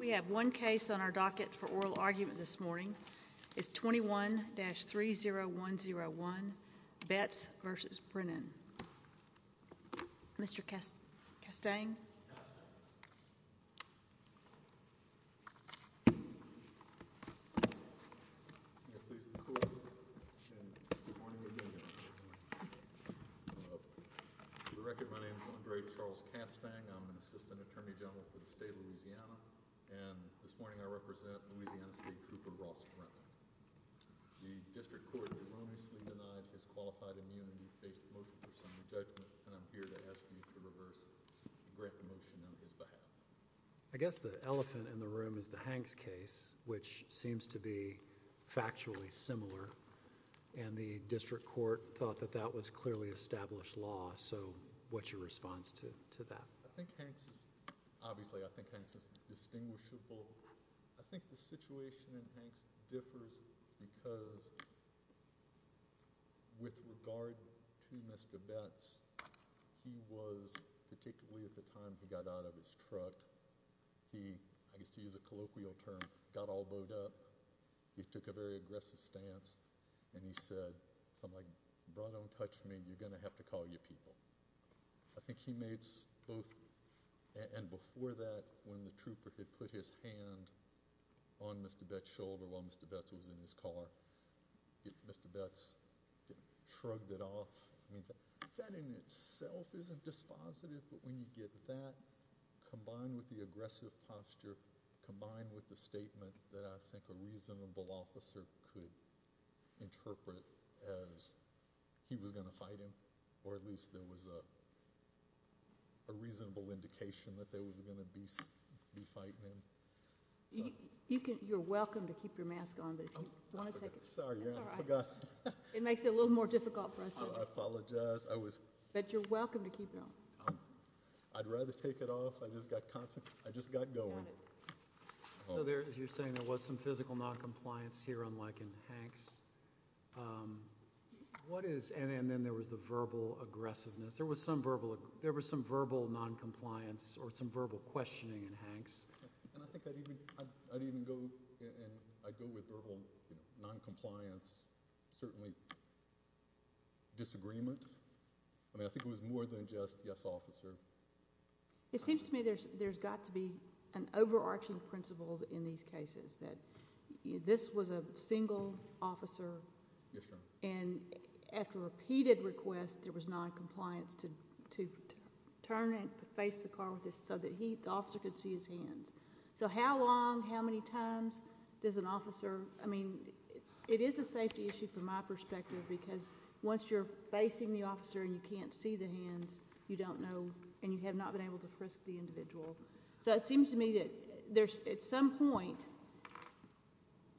We have one case on our docket for oral argument this morning. It's 21-30101, Betts v. Brennan. Mr. Castang. May it please the Court, and good morning again, Your Honor. For the record, my name is Andre Charles Castang. I'm an Assistant Attorney General for the State of Louisiana, and this morning I represent Louisiana State Trooper Ross Brennan. The District Court erroneously denied his qualified immunity-based motion for summary judgment, and I'm here to ask you to reverse it and grant the motion on his behalf. I guess the elephant in the room is the Hanks case, which seems to be factually similar, and the District Court thought that that was clearly established law. So what's your response to that? I think Hanks is – obviously I think Hanks is distinguishable. I think the situation in Hanks differs because with regard to Mr. Betts, he was, particularly at the time he got out of his truck, he, I guess to use a colloquial term, got all bowed up. He took a very aggressive stance, and he said something like, bro, don't touch me, you're going to have to call your people. I think he made both – and before that, when the trooper had put his hand on Mr. Betts' shoulder while Mr. Betts was in his car, Mr. Betts shrugged it off. That in itself isn't dispositive, but when you get that combined with the aggressive posture, combined with the statement that I think a reasonable officer could interpret as he was going to fight him or at least there was a reasonable indication that they was going to be fighting him. You're welcome to keep your mask on, but if you want to take it off. Sorry, I forgot. It makes it a little more difficult for us to – I apologize. But you're welcome to keep it on. I'd rather take it off. I just got going. So there, as you were saying, there was some physical noncompliance here, unlike in Hanks. What is – and then there was the verbal aggressiveness. There was some verbal noncompliance or some verbal questioning in Hanks. And I think I'd even go – I'd go with verbal noncompliance, certainly disagreement. I mean, I think it was more than just, yes, officer. It seems to me there's got to be an overarching principle in these cases, that this was a single officer. And after repeated requests, there was noncompliance to turn and face the car with this so that he, the officer, could see his hands. So how long, how many times does an officer – I mean, it is a safety issue from my perspective because once you're facing the officer and you can't see the hands, you don't know So it seems to me that there's – at some point,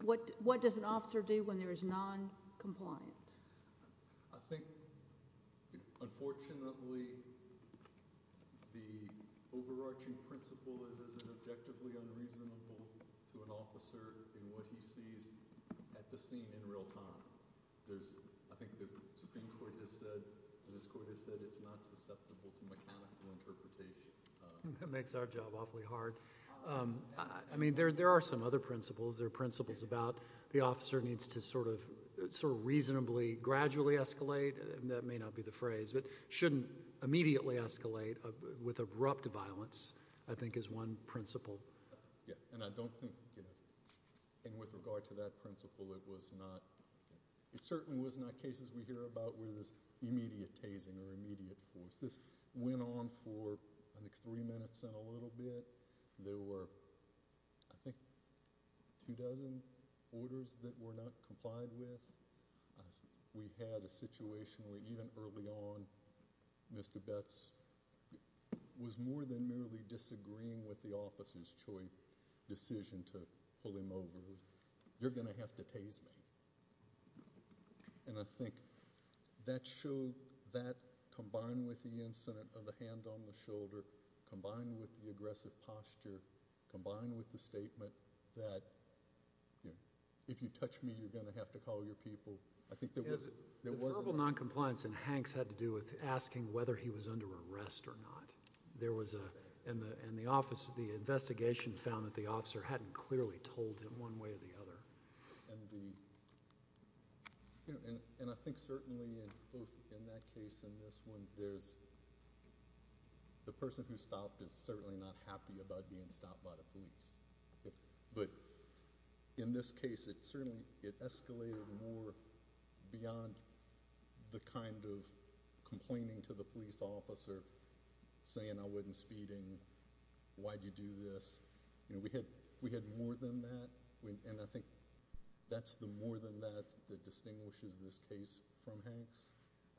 what does an officer do when there is noncompliance? I think, unfortunately, the overarching principle is it's objectively unreasonable to an officer in what he sees at the scene in real time. I think the Supreme Court has said, and this Court has said, it's not susceptible to mechanical interpretation. That makes our job awfully hard. I mean, there are some other principles. There are principles about the officer needs to sort of reasonably gradually escalate. That may not be the phrase. But shouldn't immediately escalate with abrupt violence, I think, is one principle. Yeah, and I don't think – and with regard to that principle, it was not – it certainly was not cases we hear about where there's immediate tasing or immediate force. This went on for, I think, three minutes and a little bit. There were, I think, two dozen orders that were not complied with. We had a situation where even early on Mr. Betz was more than merely disagreeing with the officer's choice, decision to pull him over. You're going to have to tase me. And I think that combined with the incident of the hand on the shoulder, combined with the aggressive posture, combined with the statement that if you touch me, you're going to have to call your people, I think there wasn't much. The verbal noncompliance in Hanks had to do with asking whether he was under arrest or not. There was a – and the investigation found that the officer hadn't clearly told him one way or the other. And the – and I think certainly both in that case and this one, there's – the person who stopped is certainly not happy about being stopped by the police. But in this case, it certainly – it escalated more beyond the kind of complaining to the police officer, saying I wasn't speeding, why'd you do this? We had more than that, and I think that's the more than that that distinguishes this case from Hanks.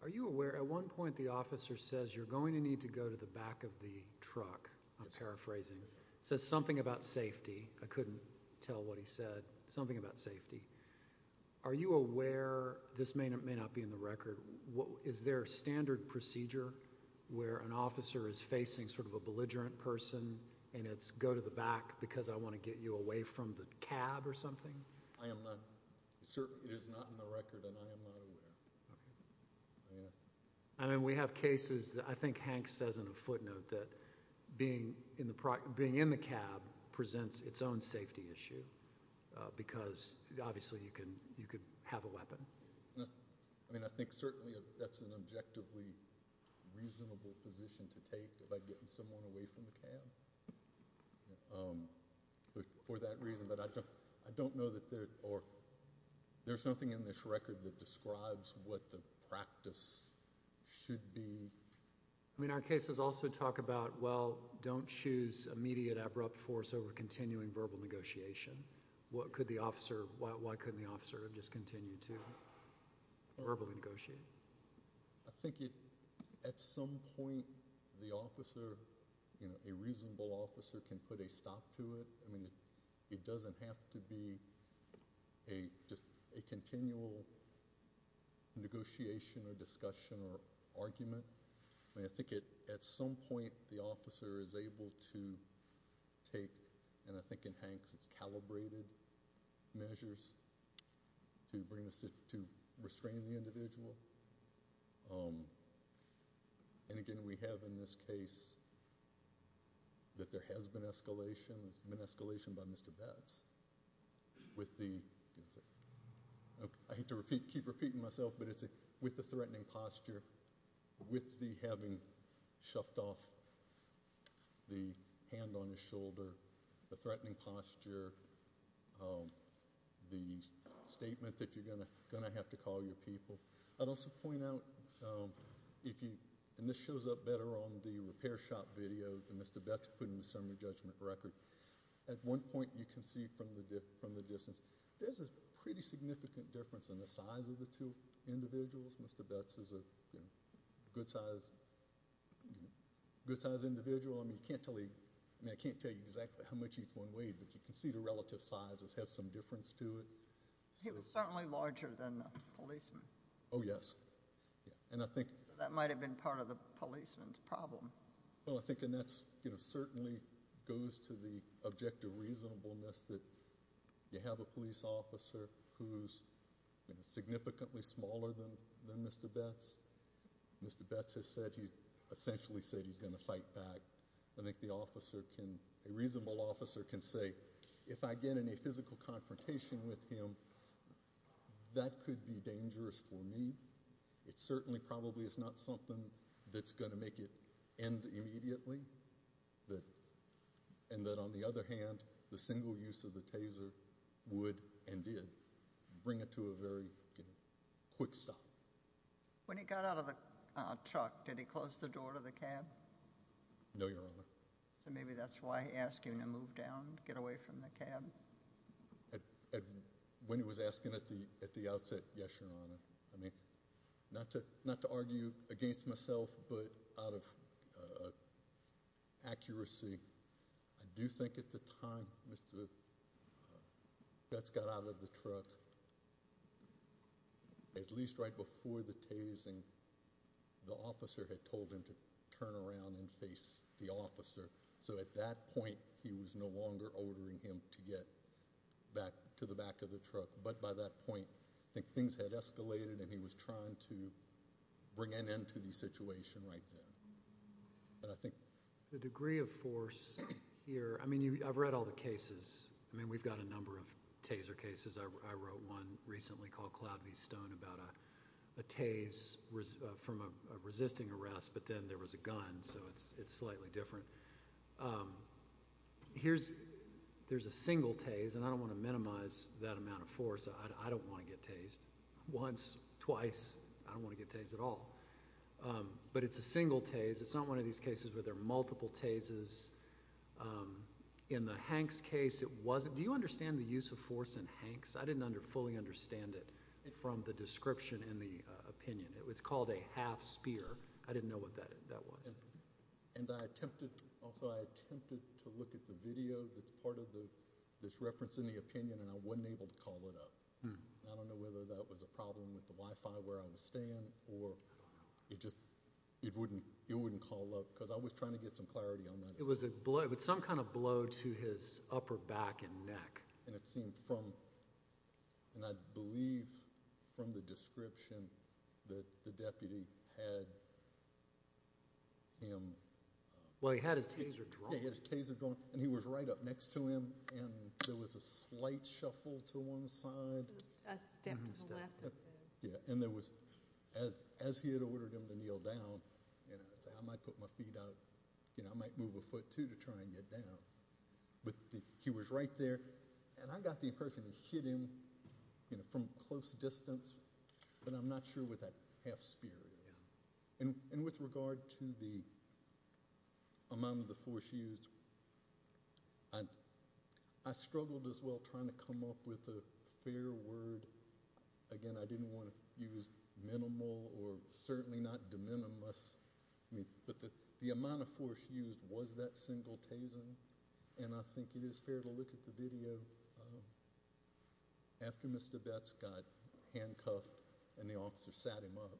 Are you aware at one point the officer says you're going to need to go to the back of the truck? I'm paraphrasing. It says something about safety. I couldn't tell what he said. Something about safety. Are you aware – this may not be in the record. Is there a standard procedure where an officer is facing sort of a belligerent person and it's go to the back because I want to get you away from the cab or something? I am not – it is not in the record, and I am not aware. I mean, we have cases – I think Hanks says in a footnote that being in the cab presents its own safety issue because obviously you could have a weapon. I mean, I think certainly that's an objectively reasonable position to take, like getting someone away from the cab, for that reason. But I don't know that there – or there's nothing in this record that describes what the practice should be. I mean, our cases also talk about, well, don't choose immediate abrupt force over continuing verbal negotiation. Why couldn't the officer just continue to verbally negotiate? I think at some point the officer, a reasonable officer, can put a stop to it. I mean, it doesn't have to be just a continual negotiation or discussion or argument. I mean, I think at some point the officer is able to take, and I think in Hanks it's calibrated, measures to restrain the individual. And again, we have in this case that there has been escalation. It's been escalation by Mr. Betts with the – I hate to keep repeating myself, but it's with the threatening posture, with the having shoved off the hand on his shoulder, the threatening posture, the statement that you're going to have to call your people. I'd also point out if you – and this shows up better on the repair shop video that Mr. Betts put in the summary judgment record. At one point you can see from the distance there's a pretty significant difference in the size of the two individuals. Mr. Betts is a good-sized individual. I mean, I can't tell you exactly how much each one weighed, but you can see the relative sizes have some difference to it. He was certainly larger than the policeman. Oh, yes. That might have been part of the policeman's problem. Well, I think that certainly goes to the objective reasonableness that you have a police officer who's significantly smaller than Mr. Betts. Mr. Betts has said he's – essentially said he's going to fight back. I think the officer can – a reasonable officer can say, if I get in a physical confrontation with him, that could be dangerous for me. It certainly probably is not something that's going to make it end immediately. And that, on the other hand, the single use of the taser would and did bring it to a very quick stop. When he got out of the truck, did he close the door to the cab? No, Your Honor. So maybe that's why he asked him to move down, get away from the cab. When he was asking at the outset, yes, Your Honor. Not to argue against myself, but out of accuracy, I do think at the time Mr. Betts got out of the truck, at least right before the tasing, the officer had told him to turn around and face the officer. So at that point he was no longer ordering him to get back to the back of the truck. But by that point, I think things had escalated, and he was trying to bring an end to the situation right then. The degree of force here – I mean, I've read all the cases. I mean, we've got a number of taser cases. I wrote one recently called Cloud V. Stone about a tase from a resisting arrest, but then there was a gun, so it's slightly different. There's a single tase, and I don't want to minimize that amount of force. I don't want to get tased once, twice. I don't want to get tased at all. But it's a single tase. It's not one of these cases where there are multiple tases. In the Hanks case, it wasn't. Do you understand the use of force in Hanks? I didn't fully understand it from the description and the opinion. It was called a half spear. I didn't know what that was. I attempted to look at the video that's part of this reference in the opinion, and I wasn't able to call it up. I don't know whether that was a problem with the Wi-Fi where I was staying, or it just wouldn't call up because I was trying to get some clarity on that. It was some kind of blow to his upper back and neck. It seemed from, and I believe from the description that the deputy had him. Well, he had his taser drawn. He had his taser drawn, and he was right up next to him, and there was a slight shuffle to one side. A step to the left. Yeah, and there was, as he had ordered him to kneel down, I might put my feet out. I might move a foot, too, to try and get down. But he was right there, and I got the impression he hit him from close distance, but I'm not sure what that half spear is. And with regard to the amount of the force used, I struggled as well trying to come up with a fair word. Again, I didn't want to use minimal or certainly not de minimis, but the amount of force used was that single taser, and I think it is fair to look at the video. After Mr. Betts got handcuffed and the officer sat him up,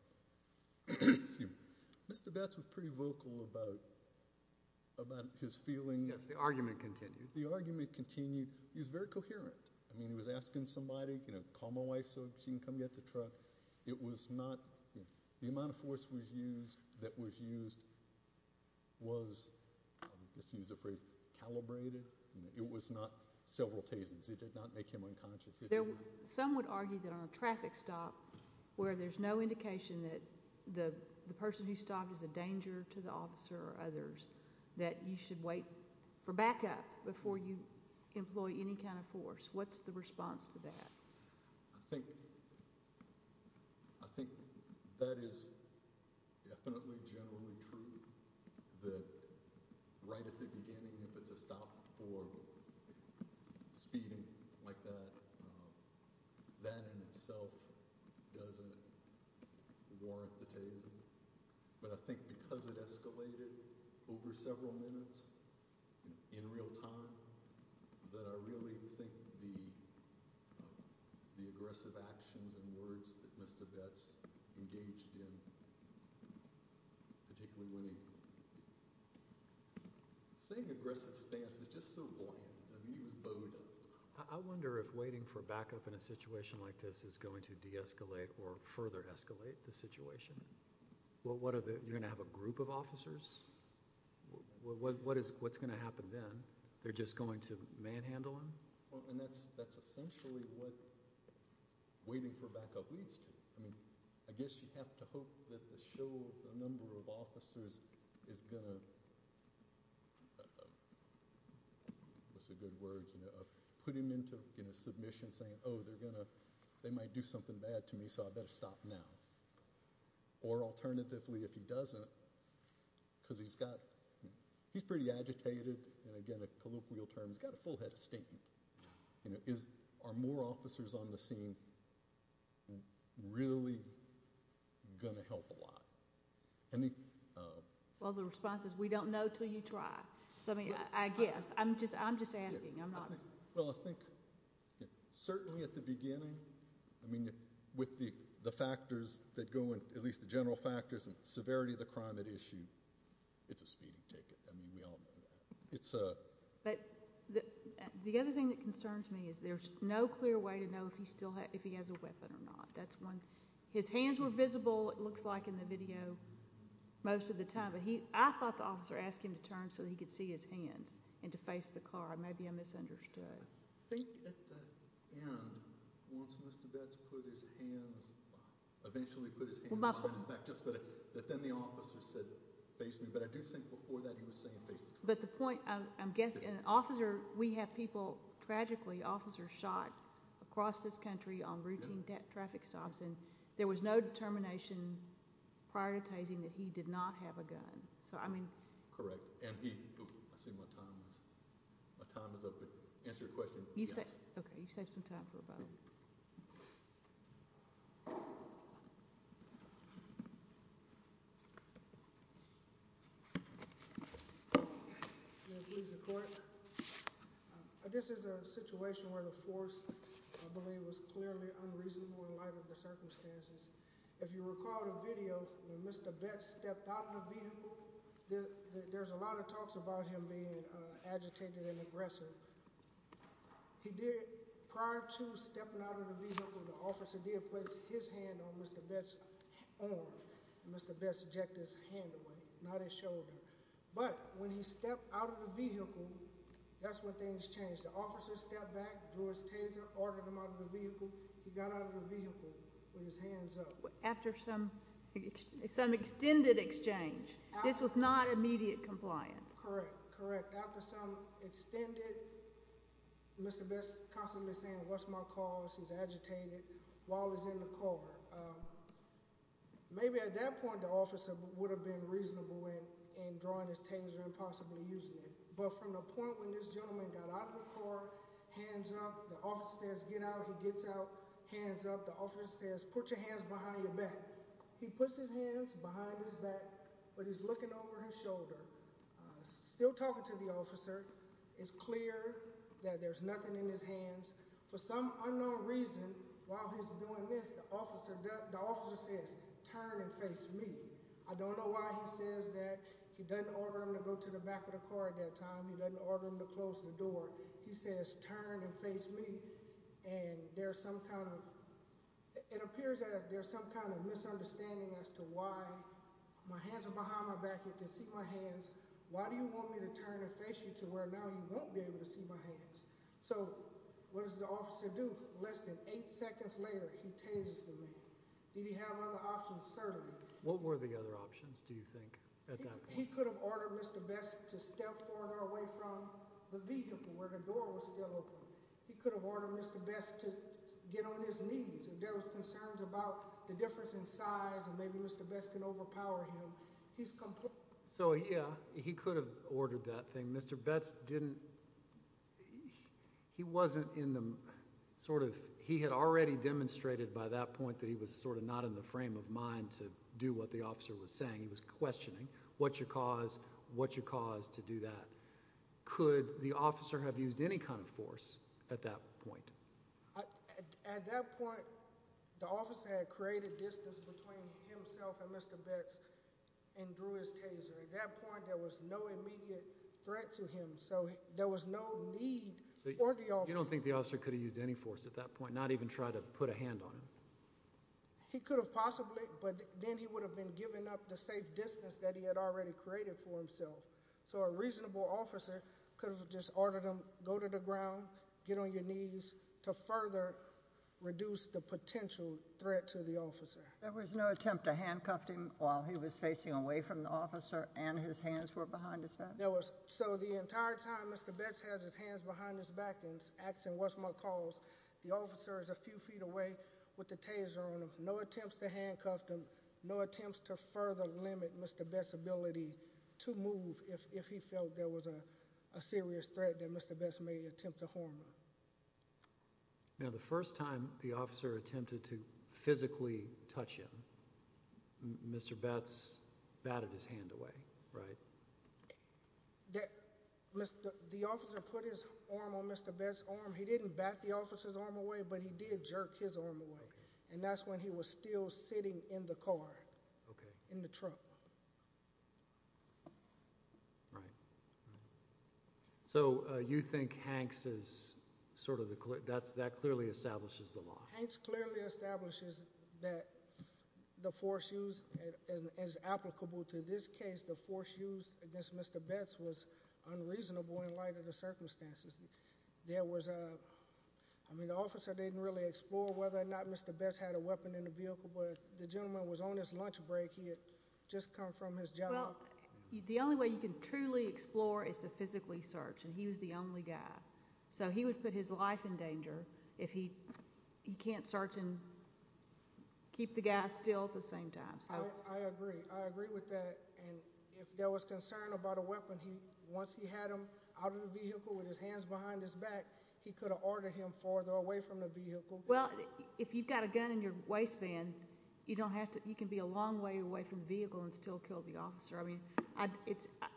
Mr. Betts was pretty vocal about his feelings. Yes, the argument continued. The argument continued. He was very coherent. I mean, he was asking somebody, you know, call my wife so she can come get the truck. But it was not the amount of force that was used was, I'll just use the phrase, calibrated. It was not several tasers. It did not make him unconscious. Some would argue that on a traffic stop where there's no indication that the person who stopped is a danger to the officer or others, that you should wait for backup before you employ any kind of force. What's the response to that? I think that is definitely generally true, that right at the beginning if it's a stop for speeding like that, that in itself doesn't warrant the taser. But I think because it escalated over several minutes in real time, that I really think the aggressive actions and words that Mr. Betts engaged in, particularly when he, saying aggressive stance is just so bland. I mean, he was bowed up. I wonder if waiting for backup in a situation like this is going to de-escalate or further escalate the situation. You're going to have a group of officers? What's going to happen then? They're just going to manhandle him? And that's essentially what waiting for backup leads to. I mean, I guess you have to hope that the show of the number of officers is going to, what's a good word, put him into submission saying, oh, they might do something bad to me, so I better stop now. Or alternatively, if he doesn't, because he's got, he's pretty agitated, and again a colloquial term, he's got a full head of state. Are more officers on the scene really going to help a lot? Well, the response is we don't know until you try. I guess. I'm just asking. Well, I think certainly at the beginning, I mean, with the factors that go in, at least the general factors and severity of the crime at issue, it's a speeding ticket. I mean, we all know that. But the other thing that concerns me is there's no clear way to know if he has a weapon or not. That's one. His hands were visible, it looks like, in the video most of the time, but I thought the officer asked him to turn so that he could see his hands and to face the car. Maybe I misunderstood. I think at the end, once Mr. Betz put his hands, eventually put his hands behind his back, but then the officer said face me. But I do think before that he was saying face the truck. But the point, I'm guessing, an officer, we have people, tragically, officers shot across this country on routine traffic stops, and there was no determination prioritizing that he did not have a gun. Correct. I see my time is up, but to answer your question, yes. Okay, you've saved some time for a vote. I'm going to plead the court. This is a situation where the force, I believe, was clearly unreasonable in light of the circumstances. If you recall the video when Mr. Betz stepped out of the vehicle, there's a lot of talks about him being agitated and aggressive. He did, prior to stepping out of the vehicle, the officer did place his hand on Mr. Betz's arm, and Mr. Betz ejected his hand away, not his shoulder. But when he stepped out of the vehicle, that's when things changed. The officer stepped back, drew his taser, ordered him out of the vehicle. He got out of the vehicle with his hands up. After some extended exchange. This was not immediate compliance. Correct, correct. After some extended, Mr. Betz constantly saying, what's my cause? He's agitated while he's in the car. Maybe at that point the officer would have been reasonable in drawing his taser and possibly using it. But from the point when this gentleman got out of the car, hands up, the officer says, get out. He gets out, hands up. The officer says, put your hands behind your back. He puts his hands behind his back, but he's looking over his shoulder. Still talking to the officer. It's clear that there's nothing in his hands. For some unknown reason, while he's doing this, the officer says, turn and face me. I don't know why he says that. He doesn't order him to go to the back of the car at that time. He doesn't order him to close the door. He says, turn and face me. It appears that there's some kind of misunderstanding as to why my hands are behind my back. You can see my hands. Why do you want me to turn and face you to where now you won't be able to see my hands? So what does the officer do? Less than eight seconds later, he tasers the man. Did he have other options? Certainly. What were the other options, do you think, at that point? He could have ordered Mr. Betz to step further away from the vehicle where the door was still open. He could have ordered Mr. Betz to get on his knees. If there was concerns about the difference in size and maybe Mr. Betz can overpower him, he's completely— So, yeah, he could have ordered that thing. Mr. Betz didn't—he wasn't in the sort of— he had already demonstrated by that point that he was sort of not in the frame of mind to do what the officer was saying. He was questioning. What's your cause? What's your cause to do that? Could the officer have used any kind of force at that point? At that point, the officer had created distance between himself and Mr. Betz and drew his taser. At that point, there was no immediate threat to him, so there was no need for the officer— You don't think the officer could have used any force at that point, not even try to put a hand on him? He could have possibly, but then he would have been giving up the safe distance that he had already created for himself. So a reasonable officer could have just ordered him, go to the ground, get on your knees to further reduce the potential threat to the officer. There was no attempt to handcuff him while he was facing away from the officer and his hands were behind his back? There was. So the entire time Mr. Betz has his hands behind his back and asking, what's my cause, the officer is a few feet away with the taser on him. No attempts to handcuff him, no attempts to further limit Mr. Betz's ability to move if he felt there was a serious threat that Mr. Betz may attempt to harm him. Now, the first time the officer attempted to physically touch him, Mr. Betz batted his hand away, right? The officer put his arm on Mr. Betz's arm. He didn't bat the officer's arm away, but he did jerk his arm away, and that's when he was still sitting in the car, in the trunk. Right. So you think that clearly establishes the law? Hanks clearly establishes that the force used is applicable to this case. The force used against Mr. Betz was unreasonable in light of the circumstances. I mean, the officer didn't really explore whether or not Mr. Betz had a weapon in the vehicle, but the gentleman was on his lunch break. He had just come from his job. Well, the only way you can truly explore is to physically search, and he was the only guy. So he would put his life in danger if he can't search and keep the guy still at the same time. I agree. I agree with that. And if there was concern about a weapon, once he had him out of the vehicle with his hands behind his back, he could have ordered him farther away from the vehicle. Well, if you've got a gun in your waistband, you can be a long way away from the vehicle and still kill the officer. I mean,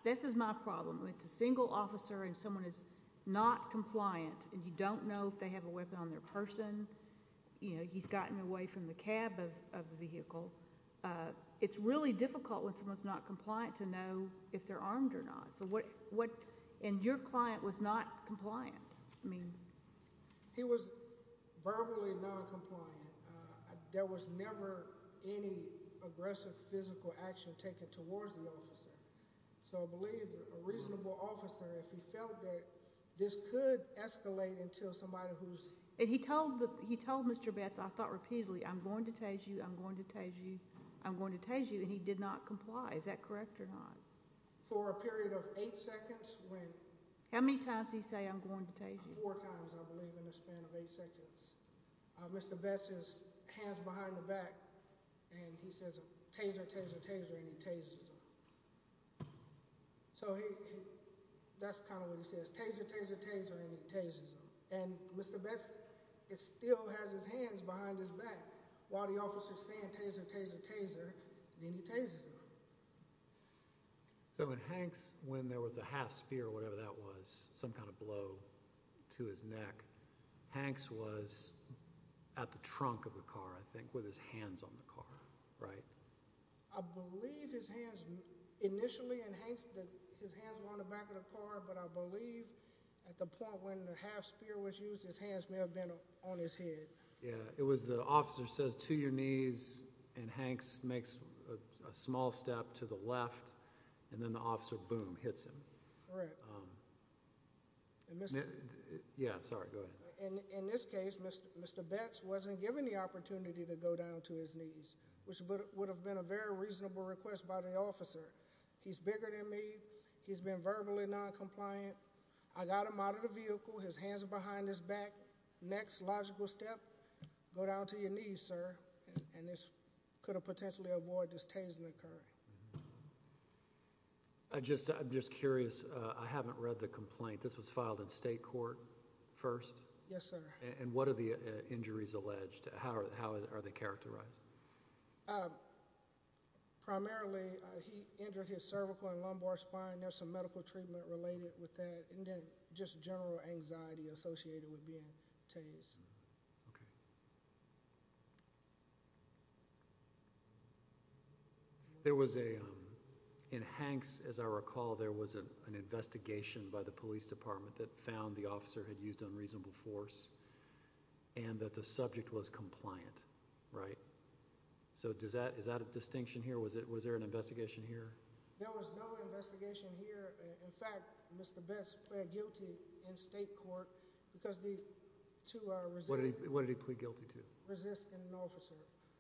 this is my problem. When it's a single officer and someone is not compliant and you don't know if they have a weapon on their person, you know, he's gotten away from the cab of the vehicle, it's really difficult when someone is not compliant to know if they're armed or not. And your client was not compliant. He was verbally noncompliant. There was never any aggressive physical action taken towards the officer. So I believe a reasonable officer, if he felt that, this could escalate until somebody who's— And he told Mr. Betts, I thought repeatedly, I'm going to tase you, I'm going to tase you, I'm going to tase you, and he did not comply. Is that correct or not? For a period of eight seconds when— How many times did he say, I'm going to tase you? Four times, I believe, in the span of eight seconds. Mr. Betts' hands behind the back, and he says, taser, taser, taser, and he tases him. So that's kind of what he says, taser, taser, taser, and he tases him. And Mr. Betts still has his hands behind his back while the officer's saying taser, taser, taser, and then he tases him. So in Hanks, when there was a half-spear or whatever that was, some kind of blow to his neck, Hanks was at the trunk of the car, I think, with his hands on the car, right? I believe his hands— Yeah, it was the officer says, to your knees, and Hanks makes a small step to the left, and then the officer, boom, hits him. Correct. Yeah, sorry, go ahead. In this case, Mr. Betts wasn't given the opportunity to go down to his knees, which would have been a very reasonable request by the officer. He's bigger than me. He's been verbally noncompliant. I got him out of the vehicle. His hands are behind his back. Next logical step, go down to your knees, sir, and this could have potentially avoided this tasing occurring. I'm just curious. I haven't read the complaint. This was filed in state court first? Yes, sir. And what are the injuries alleged? How are they characterized? Primarily, he injured his cervical and lumbar spine. There's some medical treatment related with that, and then just general anxiety associated with being tased. Okay. There was a—in Hanks, as I recall, there was an investigation by the police department that found the officer had used unreasonable force and that the subject was compliant, right? So is that a distinction here? Was there an investigation here? There was no investigation here. In fact, Mr. Betts pled guilty in state court because the two are resisting— What did he plead guilty to? Resisting an officer.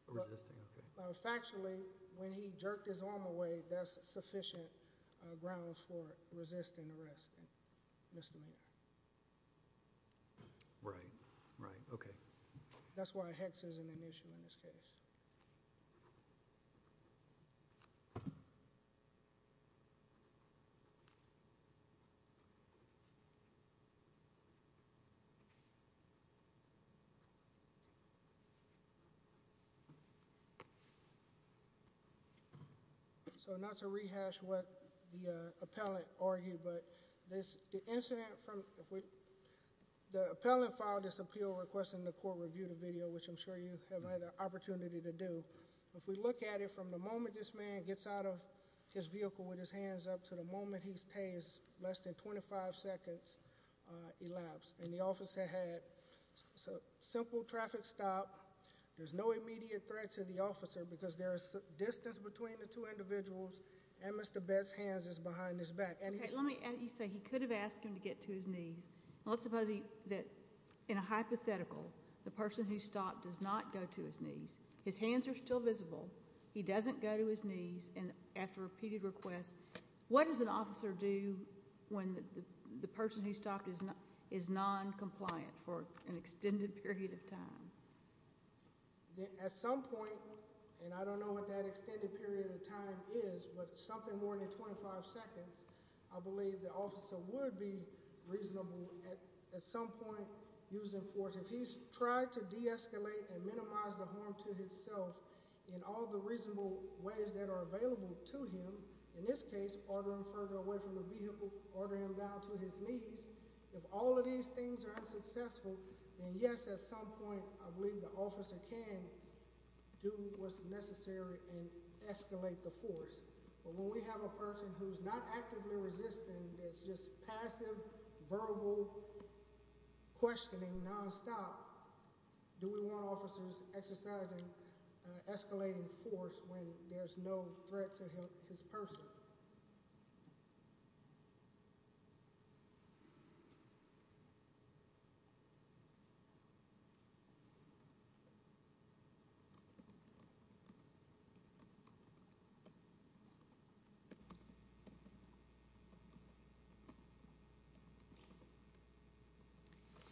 Resisting, okay. Factually, when he jerked his arm away, that's sufficient grounds for resisting arrest and misdemeanor. Right, right, okay. That's why a hex isn't an issue in this case. So not to rehash what the appellant argued, but the incident from— The appellant filed this appeal requesting the court review the video, which I'm sure you have had an opportunity to do. If we look at it from the moment this man gets out of his vehicle with his hands up to the moment he's tased, less than 25 seconds elapsed. And the officer had a simple traffic stop. There's no immediate threat to the officer because there is distance between the two individuals, and Mr. Betts' hands is behind his back. Let me say, he could have asked him to get to his knees. Let's suppose that, in a hypothetical, the person who stopped does not go to his knees. His hands are still visible. He doesn't go to his knees. And after repeated requests, what does an officer do when the person who stopped is noncompliant for an extended period of time? At some point, and I don't know what that extended period of time is, but something more than 25 seconds, I believe the officer would be reasonable at some point using force. If he's tried to de-escalate and minimize the harm to himself in all the reasonable ways that are available to him, in this case, ordering him further away from the vehicle, ordering him down to his knees, if all of these things are unsuccessful, then, yes, at some point, I believe the officer can do what's necessary and escalate the force. But when we have a person who's not actively resisting, that's just passive, verbal questioning nonstop, do we want officers exercising escalating force when there's no threat to his person?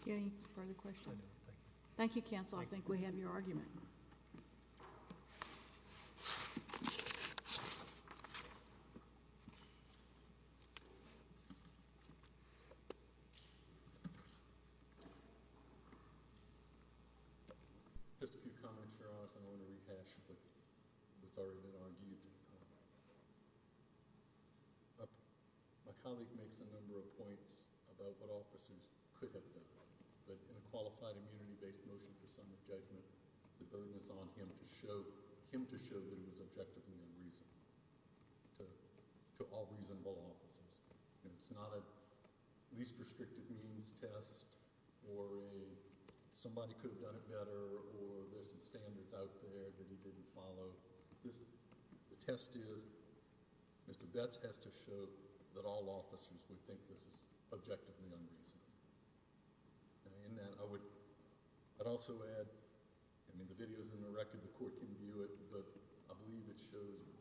Any further questions? Thank you, Counsel. I think we have your argument. Just a few comments, Your Honor. I just want to rehash what's already been argued. My colleague makes a number of points about what officers could have done. But in a qualified immunity-based motion for summary judgment, the burden is on him to show that it was objectively unreasonable to all reasonable officers. It's not a least restrictive means test or a somebody could have done it better or there's some standards out there that he didn't follow. So the test is Mr. Betz has to show that all officers would think this is objectively unreasonable. And in that, I would also add, I mean, the video is in the record. The court can view it. But I believe it shows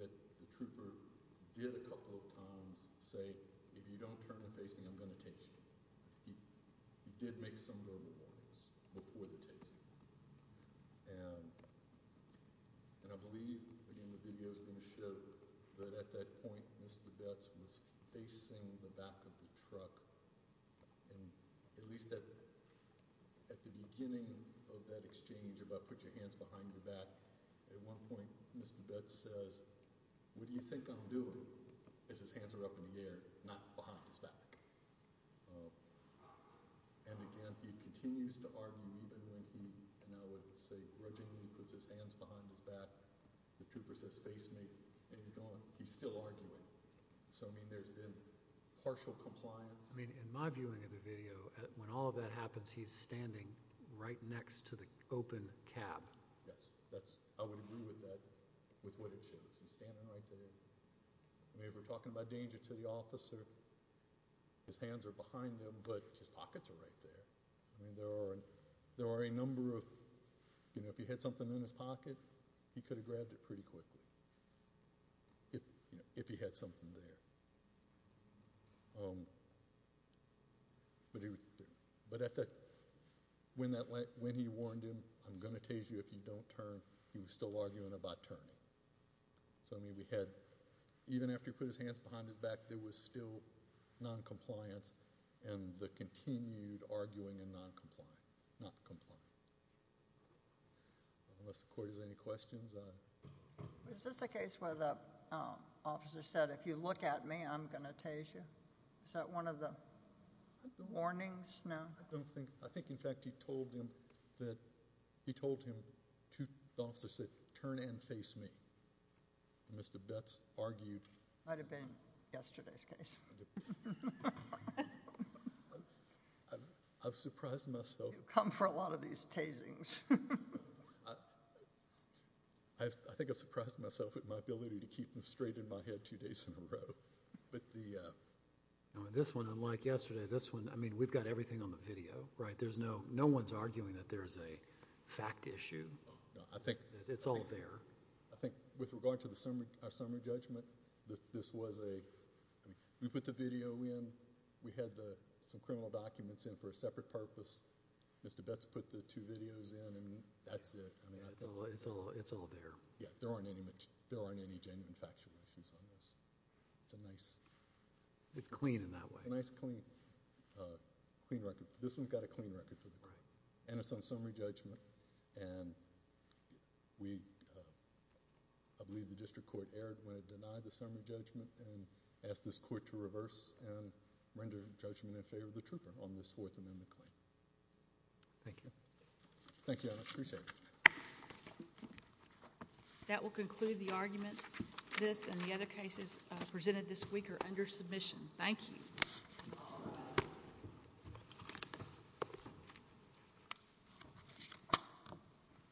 that the trooper did a couple of times say, if you don't turn and face me, I'm going to tase you. He did make some verbal warnings before the tasing. And I believe, again, the video is going to show that at that point, Mr. Betz was facing the back of the truck. And at least at the beginning of that exchange about put your hands behind your back, at one point, Mr. Betz says, what do you think I'm doing? As his hands are up in the air, not behind his back. And, again, he continues to argue even when he, and I would say, originally puts his hands behind his back. The trooper says, face me. And he's gone. He's still arguing. So, I mean, there's been partial compliance. I mean, in my viewing of the video, when all of that happens, he's standing right next to the open cab. Yes. I would agree with that, with what it shows. He's standing right there. I mean, if we're talking about danger to the officer, his hands are behind him, but his pockets are right there. I mean, there are a number of, you know, if he had something in his pocket, he could have grabbed it pretty quickly if he had something there. But when he warned him, I'm going to tase you if you don't turn, he was still arguing about turning. So, I mean, we had, even after he put his hands behind his back, there was still noncompliance and the continued arguing and noncompliance, not compliance. Unless the court has any questions. Is this a case where the officer said, if you look at me, I'm going to tase you? Is that one of the warnings? No. I don't think, I think, in fact, he told him that, he told him to, the officer said, turn and face me. And Mr. Betz argued. Might have been yesterday's case. I've surprised myself. You come for a lot of these tasings. I think I've surprised myself with my ability to keep them straight in my head two days in a row. But the. This one, unlike yesterday, this one, I mean, we've got everything on the video, right? There's no, no one's arguing that there's a fact issue. No, I think. It's all there. I think with regard to the summary judgment, this was a, I mean, we put the video in. We had some criminal documents in for a separate purpose. Mr. Betz put the two videos in and that's it. Yeah, it's all there. Yeah, there aren't any genuine factual issues on this. It's a nice. It's clean in that way. It's a nice, clean record. This one's got a clean record for the court. Right. And it's on summary judgment. And we, I believe the district court erred when it denied the summary judgment and asked this court to reverse and render judgment in favor of the trooper on this Fourth Amendment claim. Thank you. Thank you, Your Honor. Appreciate it. That will conclude the arguments. This and the other cases presented this week are under submission. Thank you. Thank you.